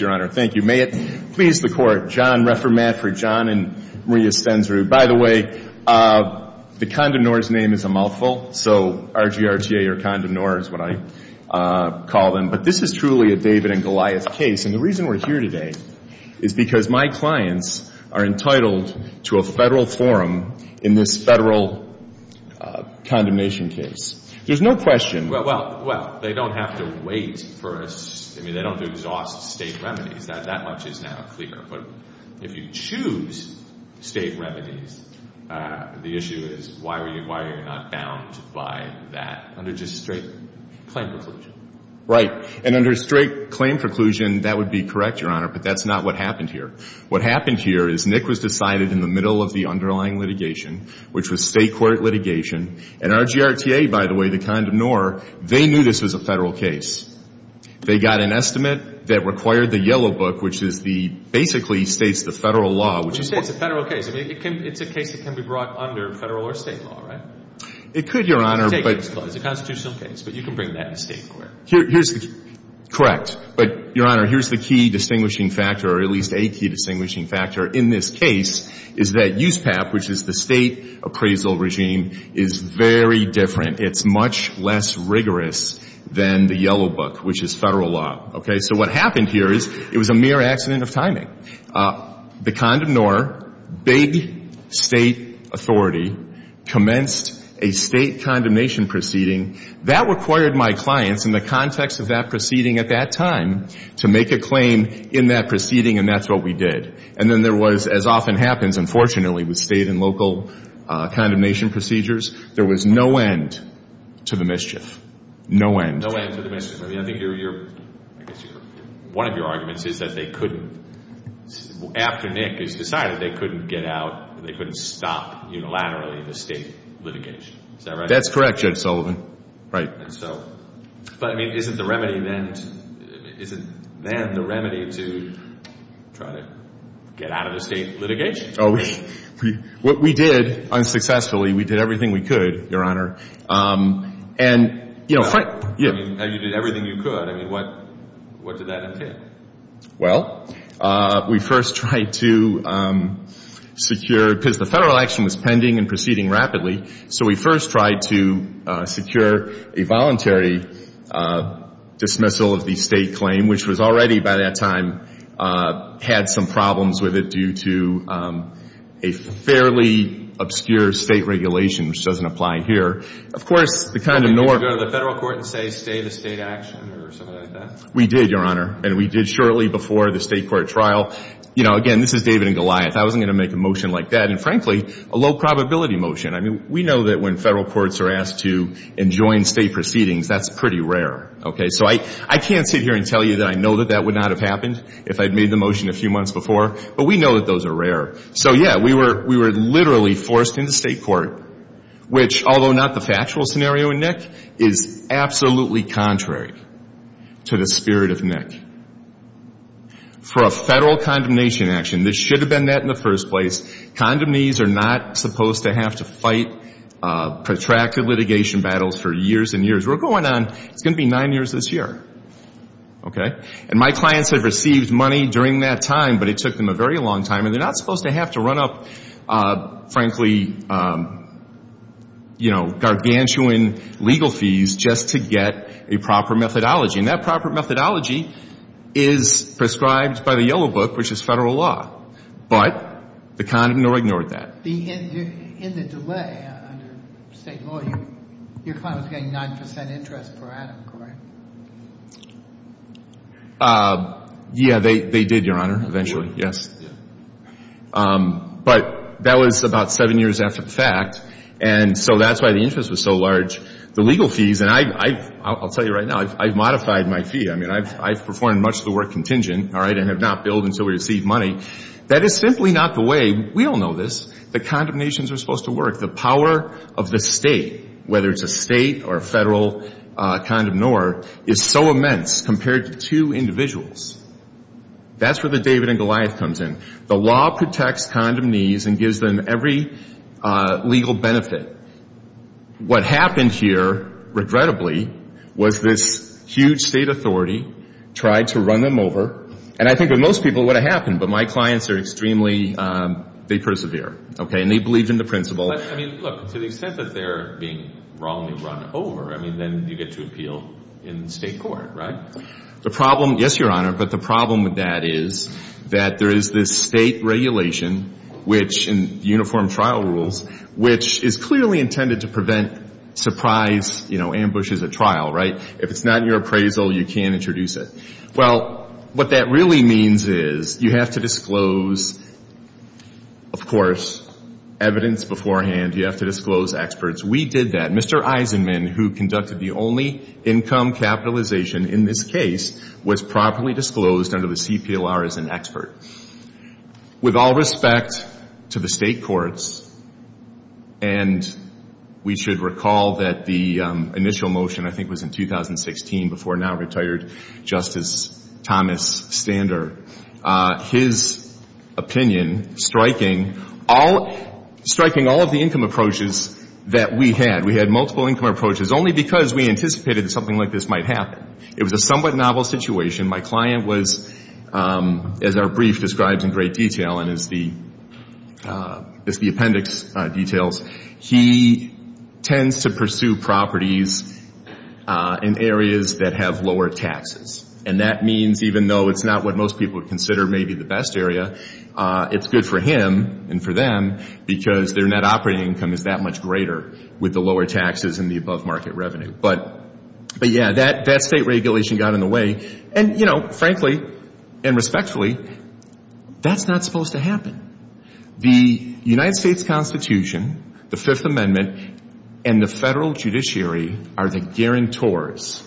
your honor. Thank you. May it please the court, John Refermat for John and Maria Stensrud. By the way, the condemnors name is a mouthful, so RGRTA or condemnors is what I call them. But this is truly a David and Goliath case. And the reason we're here today is because my clients are entitled to a federal forum in this federal condemnation case. There's no question. Well, they don't have to wait for us. I mean, they don't have to exhaust state remedies. That much is now clear. But if you choose state remedies, the issue is why are you not bound by that under just straight claim preclusion? Right. And under straight claim preclusion, that would be correct, your honor. But that's not what happened here. What happened here is Nick was decided in the middle of the underlying litigation, which was state court litigation. And RGRTA, by the way, the condemnor, they knew this was a federal case. They got an estimate that required the yellow book, which is the basically states the federal law, which is It's a federal case. It's a case that can be brought under federal or state law, right? It could, your honor, but It's a constitutional case, but you can bring that in state court. Correct. But, your honor, here's the key distinguishing factor, or at least a key distinguishing factor in this case is that USPAP, which is the state appraisal regime, is very different. It's much less rigorous than the yellow book, which is federal law. Okay? So what happened here is it was a mere accident of timing. The condemnor, big state authority, commenced a state condemnation proceeding. That required my clients in the context of that proceeding at that time to make a claim in that proceeding, and that's what we did. And then there was, as often happens, unfortunately, with state and local condemnation procedures, there was no end to the mischief. No end. No end to the mischief. I mean, I think your, your, I guess your, one of your arguments is that they couldn't, after Nick is decided, they couldn't get out, they couldn't stop unilaterally the state litigation. Is that right? That's correct, Judge Sullivan. Right. And so, but I mean, isn't the remedy then, isn't then the remedy to try to get out of the state litigation? Oh, we, we, what we did, unsuccessfully, we did everything we could, Your Honor. And, you know, I mean, you did everything you could. I mean, what, what did that entail? Well, we first tried to secure, because the federal action was pending and proceeding rapidly, so we first tried to secure a voluntary dismissal of the state claim, which was already by that time had some problems with it due to a fairly obscure state regulation, which doesn't apply here. Of course, the condom norm Did you go to the federal court and say, stay the state action or something like that? We did, Your Honor. And we did shortly before the state court trial. You know, again, this is David and Goliath. I wasn't going to make a motion like that. And frankly, a low probability motion. I mean, we know that when federal courts are asked to enjoin state proceedings, that's pretty rare. Okay? So I, I can't sit here and tell you that I know that that would not have happened if I'd made the motion a few months before. But we know that those are rare. So, yeah, we were, we were literally forced into state court, which, although not the factual scenario in Nick, is absolutely contrary to the spirit of Nick. For a federal condemnation action, this should have been that in the first place. Condemnees are not supposed to have to fight protracted litigation battles for years and years. We're going on, it's going to be nine years this year. Okay? And my clients have received money during that time, but it took them a very long time. And they're not supposed to have to run up, frankly, you know, gargantuan legal fees just to get a proper methodology. And that proper methodology is prescribed by the yellow book, which is federal law. But the condom nor ignored that. In the delay under state law, your client was getting 9% interest per item, correct? Yeah, they, they did, Your Honor, eventually, yes. But that was about seven years after the fact. And so that's why the interest was so large. The legal fees, and I, I, I'll tell you right now, I've modified my fee. I mean, I've, I've performed much of the work contingent, all right, and have not billed until we receive money. That is simply not the way, we all know this, that condemnations are supposed to work. The power of the state, whether it's a state or a federal condom nor, is so immense compared to two individuals. That's where the David and Goliath comes in. The law protects condomnees and gives them every legal benefit. What happened here, regrettably, was this huge state authority tried to run them over. And I think with most people, it would have happened. But my clients are extremely, they persevere, okay, and they believe in the principle. But, I mean, look, to the extent that they're being wrongly run over, I mean, then you get to appeal in state court, right? The problem, yes, Your Honor, but the problem with that is that there is this state regulation, which in uniform trial rules, which is clearly intended to prevent surprise, you know, ambushes in the trial, right? If it's not in your appraisal, you can't introduce it. Well, what that really means is you have to disclose, of course, evidence beforehand. You have to disclose experts. We did that. Mr. Eisenman, who conducted the only income capitalization in this case, was properly disclosed under the CPLR as an expert. With all respect to the state courts, and we should recall that the initial motion, I think, was in 2016, before now-retired Justice Thomas Stander, his opinion striking all, striking all of the income approaches that we had. We had multiple income approaches only because we anticipated that something like this might happen. It was a somewhat My client was, as our brief describes in great detail and as the appendix details, he tends to pursue properties in areas that have lower taxes. And that means, even though it's not what most people would consider maybe the best area, it's good for him and for them because their net operating income is that much greater with the lower taxes and the frankly, and respectfully, that's not supposed to happen. The United States Constitution, the Fifth Amendment, and the federal judiciary are the guarantors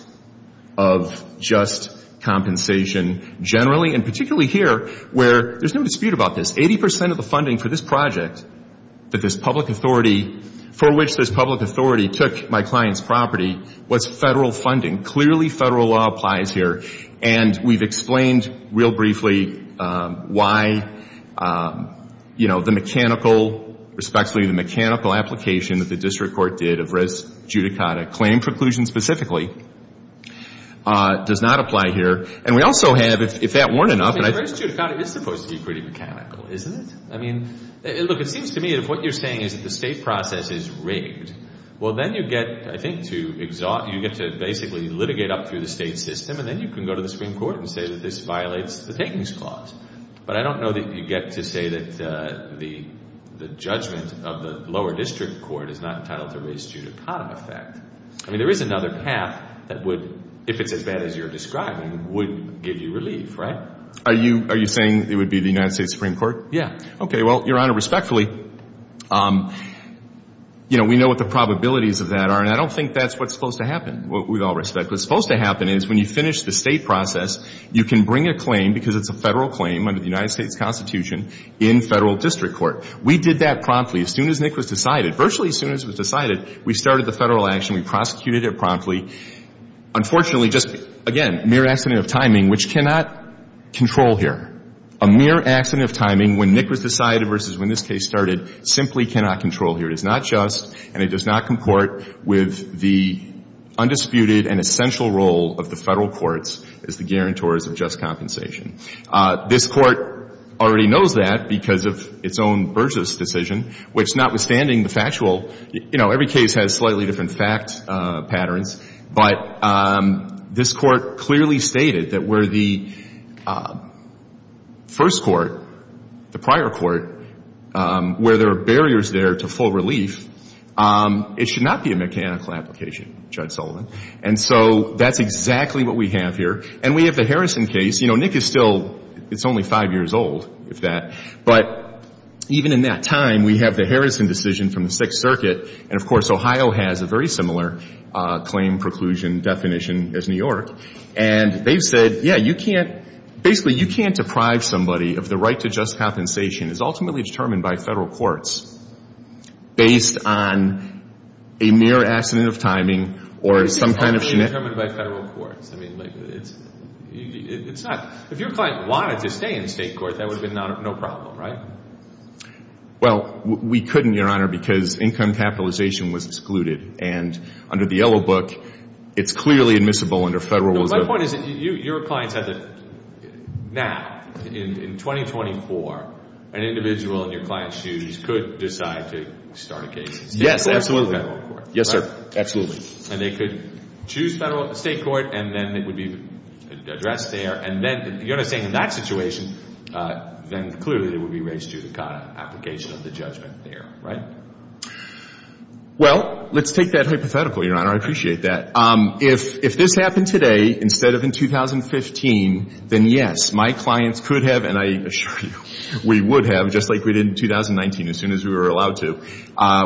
of just compensation generally and particularly here where there's no dispute about this. Eighty percent of the funding for this project that this public authority, for which this public authority took my client's property, was federal funding. Clearly, federal law applies here. And we've explained real briefly why, you know, the mechanical, respectfully, the mechanical application that the district court did of res judicata, claim preclusion specifically, does not apply here. And we also have, if that weren't enough, and I I think res judicata is supposed to be pretty mechanical, isn't it? I mean, look, it seems to me that if what you're saying is that the state process is rigged, well, then you get, I think, to basically litigate up through the state system and then you can go to the Supreme Court and say that this violates the takings clause. But I don't know that you get to say that the judgment of the lower district court is not entitled to res judicata effect. I mean, there is another path that would, if it's as bad as you're describing, would give you relief, right? Are you saying it would be the United States Supreme Court? Yeah. Okay. Well, Your Honor, respectfully, you know, we know what the probabilities of that are, and I don't think that's what's supposed to happen, with all respect. What's supposed to happen is when you finish the state process, you can bring a claim, because it's a Federal claim under the United States Constitution, in Federal district court. We did that promptly. As soon as Nick was decided, virtually as soon as it was decided, we started the Federal action. We prosecuted it promptly. Unfortunately, just, again, mere accident of timing, which cannot control here. A mere accident of timing, when Nick was decided versus when this case started, simply cannot control here. It is not just, and it does not comport with the undisputed and essential role of the Federal courts as the guarantors of just compensation. This Court already knows that because of its own Burgess decision, which, notwithstanding the factual, you know, every case has slightly different fact patterns, but this Court clearly stated that where the first court, the prior court, where there are barriers there to full relief, it should not be a mechanical application, Judge Sullivan. And so that's exactly what we have here. And we have the Harrison case. You know, Nick is still, it's only five years old, if that, but even in that time, we have the Harrison decision from the Sixth Circuit, and, of course, Ohio has a very similar claim preclusion definition as New York, and they've said, yeah, you can't, basically, you can't deprive somebody of the right to just compensation. It's ultimately determined by Federal courts based on a mere accident of timing or some kind of shenanigans. But it's only determined by Federal courts. I mean, like, it's not, if your client wanted to stay in the State court, that would have been no problem, right? Well, we couldn't, Your Honor, because income capitalization was excluded, and under the Yellow Book, it's clearly admissible under Federal rules. But my point is that your clients have to, now, in 2024, an individual in your client's shoes could decide to start a case in State court or Federal court, right? Yes, absolutely. Yes, sir, absolutely. And they could choose Federal, State court, and then it would be addressed there, and then, you know what I'm saying, in that situation, then, clearly, it would be raised to the kind of application of the judgment there, right? Well, let's take that hypothetical, Your Honor. I appreciate that. If this happened today instead of in 2015, then, yes, my clients could have, and I assure you, we would have, just like we did in 2019, as soon as we were allowed to,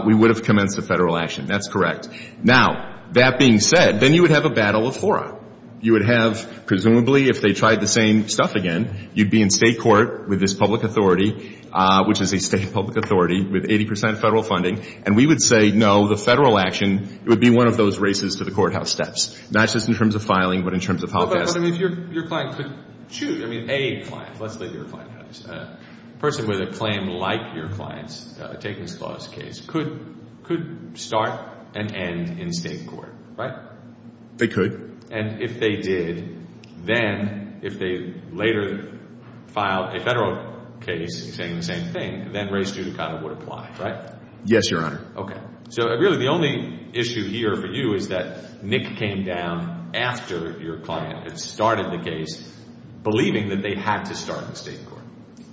we would have commenced a Federal action. That's correct. Now, that being said, then you would have a battle of horror. You would have, presumably, if they tried the same stuff again, you'd be in State court with this public authority, which is a State public authority with 80 percent Federal funding, and we would say, no, the Federal action, it would be one of those races to the courthouse steps, not just in terms of filing, but in terms of how fast... Well, but, I mean, if your client could choose, I mean, a client, let's say your client, a person with a claim like your client's taking this clause case could start and end in State court, right? They could. And if they did, then, if they later filed a Federal case saying the same thing, then race to the counter would apply, right? Yes, Your Honor. Okay. So, really, the only issue here for you is that Nick came down after your client had started the case believing that they had to start in State court,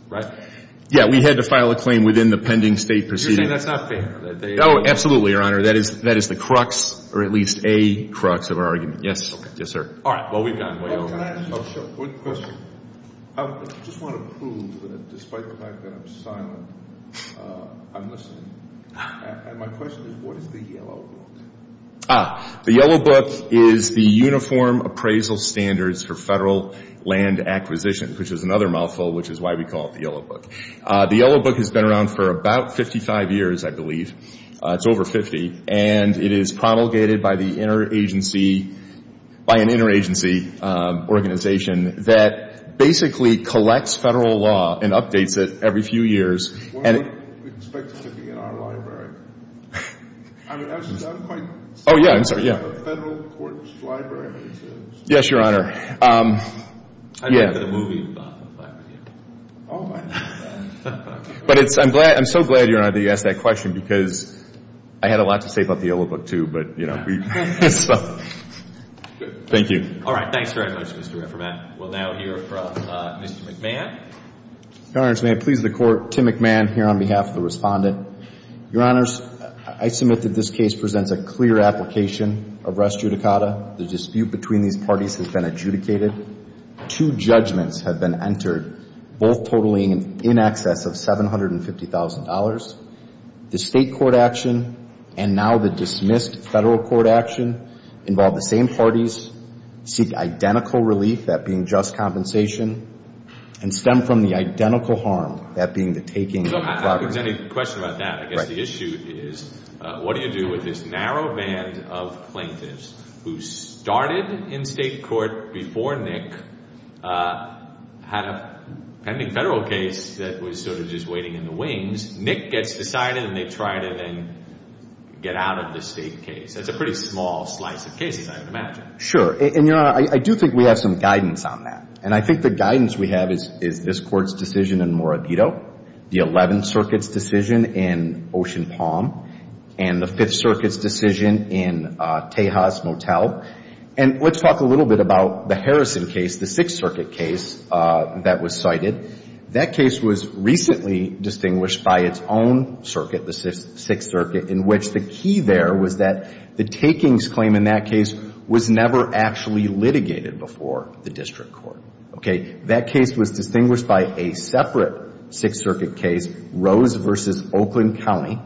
right? Yeah, we had to file a claim within the pending State proceeding. You're saying that's not fair? Oh, absolutely, Your Honor. That is the crux, or at least a crux of our argument. Yes, okay. Yes, sir. All right. Well, we've gone way over time. Oh, can I ask you a question? I just want to prove that despite the fact that I'm silent, I'm listening. And my question is, what is the Yellow Book? Ah, the Yellow Book is the Uniform Appraisal Standards for Federal Land Acquisition, which is another mouthful, which is why we call it the Yellow Book. The Yellow Book has been around for about 55 years, I believe. It's over 50. And it is promulgated by the interagency – by an interagency organization that basically collects Federal law and updates it every few years. Well, we don't expect it to be in our library. I mean, that's not quite the same as a Federal Oh, yeah. I'm sorry. Yeah. Yes, Your Honor. I mean, the movie is not in the library. Oh, my. But it's – I'm glad – I'm so glad, Your Honor, that you asked that question because I had a lot to say about the Yellow Book, too, but, you know, we – so. Thank you. All right. Thanks very much, Mr. Raffermath. We'll now hear from Mr. McMahon. Your Honor, may I please the Court? Tim McMahon here on behalf of the Respondent. Your Honors, I submit that this case presents a clear application of res judicata. The dispute between these parties is in excess of $750,000. The State court action and now the dismissed Federal court action involve the same parties, seek identical relief, that being just compensation, and stem from the identical harm, that being the taking of the property. So how does any question about that? I guess the issue is what do you do with this narrow band of plaintiffs who started in State court before Nick had a pending Federal case that was sort of just waiting in the wings. Nick gets decided and they try to then get out of the State case. That's a pretty small slice of cases, I would imagine. Sure. And, Your Honor, I do think we have some guidance on that. And I think the guidance we have is this Court's decision in Morabito, the Eleventh Circuit's decision in Ocean Palm, and the Fifth Circuit's decision in Tejas Motel. And let's talk a little bit about the Harrison case, the Sixth Circuit case that was cited. That case was recently distinguished by its own circuit, the Sixth Circuit, in which the key there was that the takings claim in that case was never actually litigated before the District Court. Okay. That case was distinguished by a separate Sixth Circuit case, Rose v. Oakland County.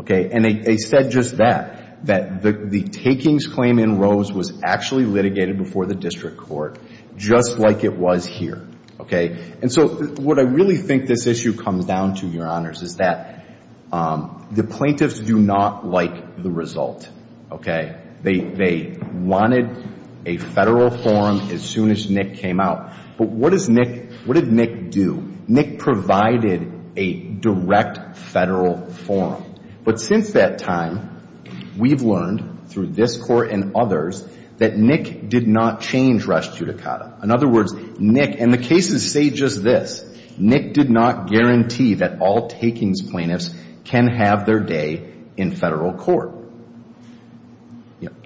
Okay. And they said just that, that the takings claim in Rose was actually litigated before the District Court, just like it was here. Okay. And so what I really think this issue comes down to, Your Honors, is that the plaintiffs do not like the result. Okay. They wanted a Federal forum as soon as Nick came out. But what does Nick, what did Nick do in that Federal forum? But since that time, we've learned through this Court and others that Nick did not change res judicata. In other words, Nick, and the cases say just this, Nick did not guarantee that all takings plaintiffs can have their day in Federal court.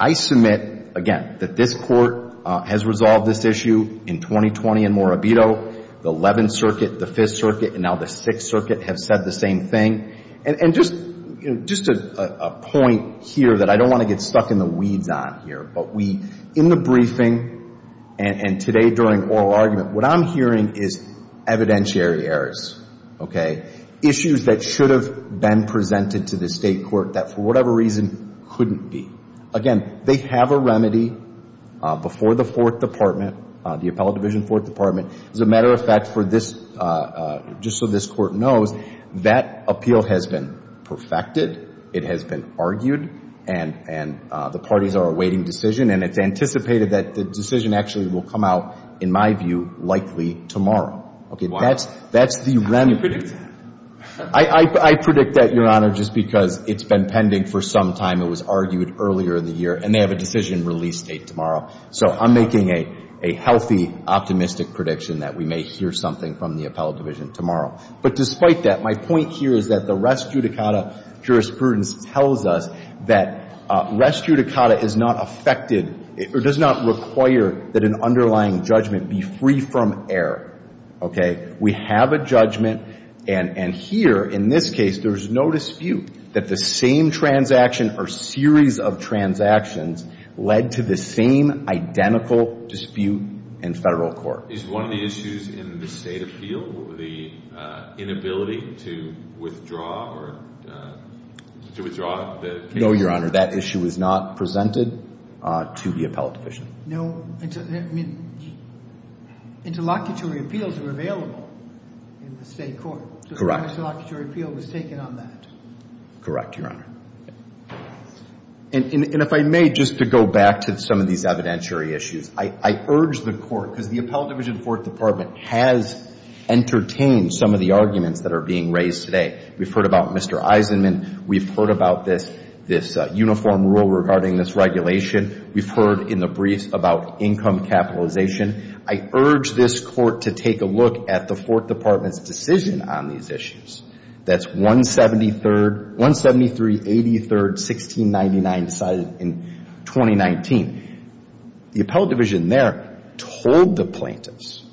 I submit, again, that this Court has resolved this issue in 2020 in Morabito. The Eleventh Circuit, the Fifth Circuit, and now the Sixth Circuit have said the same thing. And just a point here that I don't want to get stuck in the weeds on here, but we, in the briefing and today during oral argument, what I'm hearing is evidentiary errors. Okay. Issues that should have been presented to the State Court that, for whatever reason, couldn't be. Again, they have a remedy before the Fourth Department, the Appellate Division Fourth Department. As a matter of fact, for this, just so this Court knows, that appeal has been perfected. It has been argued. And the parties are awaiting decision. And it's anticipated that the decision actually will come out, in my view, likely tomorrow. Okay. That's the remedy. I predict that, Your Honor, just because it's been pending for some time. It was argued earlier in the year. And they have a decision release date tomorrow. So I'm making a healthy, optimistic prediction that we may hear something from the Appellate Division tomorrow. But despite that, my point here is that the res judicata jurisprudence tells us that res judicata is not affected or does not require that an underlying judgment be free from error. Okay. We have a judgment. And here, in this case, there's no dispute that the same transaction or series of transactions led to the same identical dispute in Federal court. Is one of the issues in the State appeal the inability to withdraw or to withdraw the case? No, Your Honor. That issue is not presented to the Appellate Division. No. I mean, interlocutory appeals are available in the State court. Correct. So the interlocutory appeal was taken on that. Correct, Your Honor. And if I may, just to go back to some of these evidentiary issues, I urge the Court, because the Appellate Division Fourth Department has entertained some of the arguments that are being raised today. We've heard about Mr. Eisenman. We've heard about this uniform rule regarding this regulation. We've heard in the briefs about income capitalization. I urge this Court to take a look at the Fourth Department's decision on these issues. That's 173, 83rd, 1699 decided in 2019. The Appellate Division there told the plaintiffs,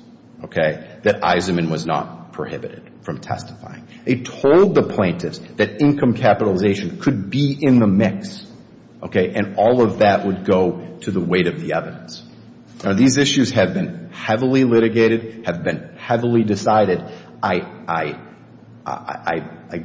okay, that Eisenman was not prohibited from testifying. They told the plaintiffs that income capitalization could be in the mix, okay, and all of that would go to the weight of the evidence. Now, these issues have been heavily litigated, have been heavily decided. I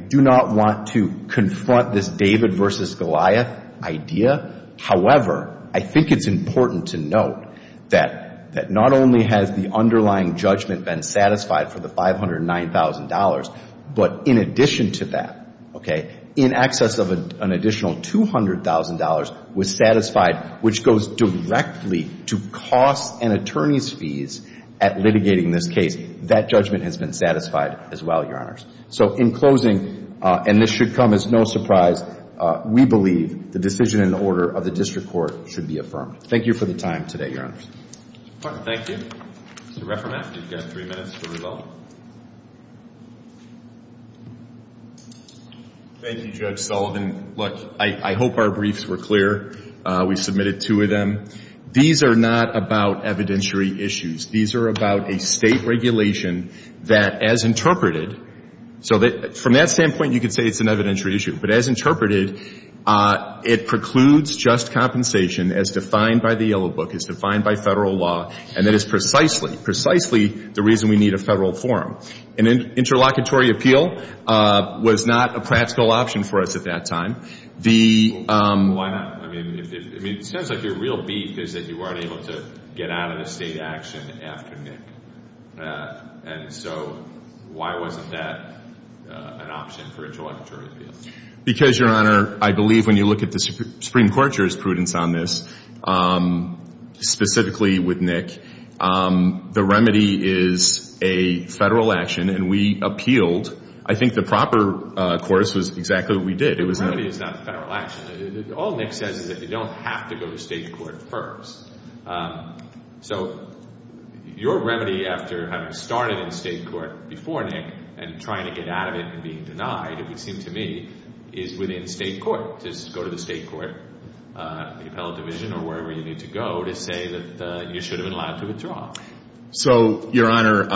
do not want to confront this David versus Goliath idea. However, I think it's important to note that not only has the underlying judgment been satisfied for the $509,000, but in addition to that, okay, in excess of an additional $200,000 was satisfied, which goes directly to costs and attorneys' fees at litigating this case. That judgment has been satisfied as well, Your Honors. So in closing, and this should come as no surprise, we believe the decision in order of the District Court should be affirmed. Thank you for the time today, Your Honors. Thank you. Mr. Refferman, you've got three minutes for rebuttal. Thank you, Judge Sullivan. Look, I hope our briefs were clear. We submitted two of them. These are not about evidentiary issues. These are about a state regulation that, as interpreted, so from that standpoint, you could say it's an evidentiary issue, but as interpreted, it precludes just compensation as defined by the Yellow Book, as defined by federal law, and that is precisely, precisely the reason we need a federal forum. An interlocutory appeal was not a practical option for us at that time. Why not? I mean, it sounds like your real beef is that you weren't able to get out of the state action after Nick, and so why wasn't that an option for interlocutory appeal? Because, Your Honor, I believe when you look at the Supreme Court with Nick, the remedy is a federal action, and we appealed. I think the proper course was exactly what we did. The remedy is not the federal action. All Nick says is that you don't have to go to state court first. So your remedy after having started in state court before Nick and trying to get out of it and being denied, it would seem to me, is within state court, just go to the state court, the appellate division or wherever you need to go to say that you should have been allowed to withdraw. So, Your Honor,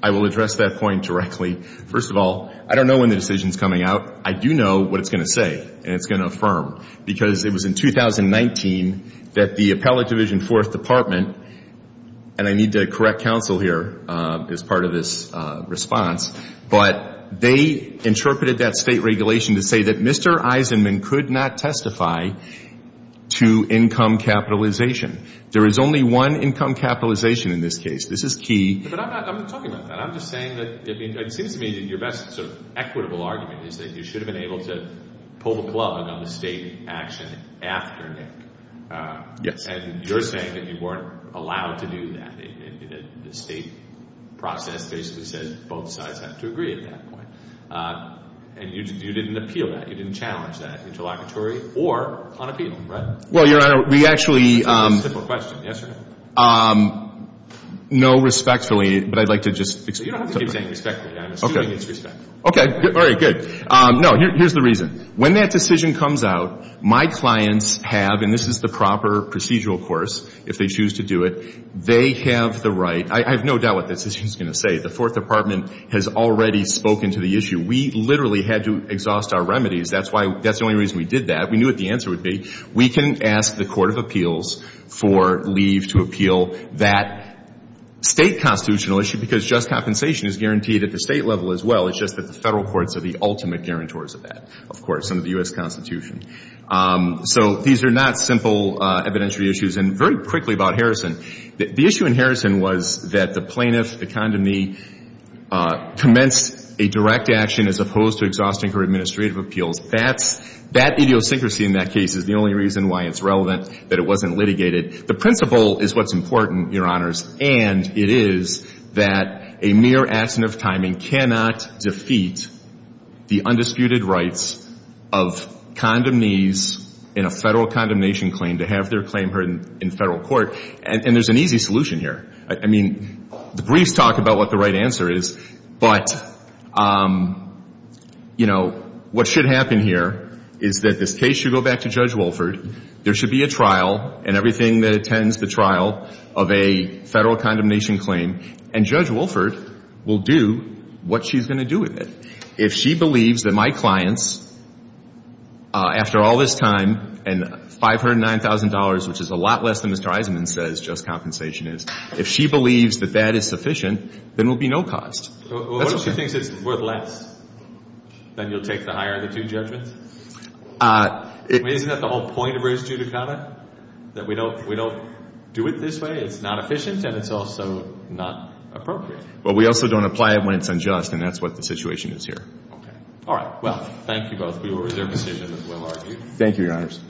I will address that point directly. First of all, I don't know when the decision is coming out. I do know what it's going to say, and it's going to affirm, because it was in 2019 that the appellate division and fourth department, and I need to correct counsel here as part of this response, but they interpreted that state regulation to say that Mr. Eisenman could not testify to income capitalization. There is only one income capitalization in this case. This is key. But I'm not talking about that. I'm just saying that it seems to me that your best sort of equitable argument is that you should have been clubbing on the state action after Nick. Yes. And you're saying that you weren't allowed to do that. The state process basically says both sides have to agree at that point. And you didn't appeal that. You didn't challenge that, interlocutory or unappealing, right? Well, Your Honor, we actually... Simple question. Yes or no? No respectfully, but I'd like to just Okay. All right. Good. No, here's the reason. When that decision comes out, my clients have, and this is the proper procedural course if they choose to do it, they have the right... I have no doubt what this decision is going to say. The fourth department has already spoken to the issue. We literally had to exhaust our remedies. That's the only reason we did that. We knew what the answer would be. We can ask the court of appeals for leave to appeal that state constitutional issue because just compensation is guaranteed at the state level as well. It's just that the federal courts are the ultimate guarantors of that, of course, under the U.S. Constitution. So these are not simple evidentiary issues. And very quickly about Harrison. The issue in Harrison was that the plaintiff, the condomnee, commenced a direct action as opposed to exhausting her The principle is what's important, Your Honors, and it is that a mere accident of timing cannot defeat the undisputed rights of condomnees in a federal condemnation claim to have their claim heard in federal court. And there's an easy solution here. I mean, the briefs talk about what the right answer is, but, you know, what should happen here is that this case should go back to Judge Wolford. There should be a trial and everything that attends the trial of a federal condemnation claim. And Judge Wolford will do what she's going to do with it. If she believes that my clients, after all this time and $509,000, which is a lot less than Mr. Eisenman says just compensation is, if she believes that that is sufficient, then there will be no cost. What if she thinks it's worth less? Then you'll take the higher of the two judgments? Isn't that the whole point of res judicata? That we don't do it this way, it's not efficient, and it's also not appropriate? Well, we also don't apply it when it's unjust, and that's what the situation is here. Okay. All right. Well, thank you both. We will reserve a seat and we'll argue. Thank you, Your Honors.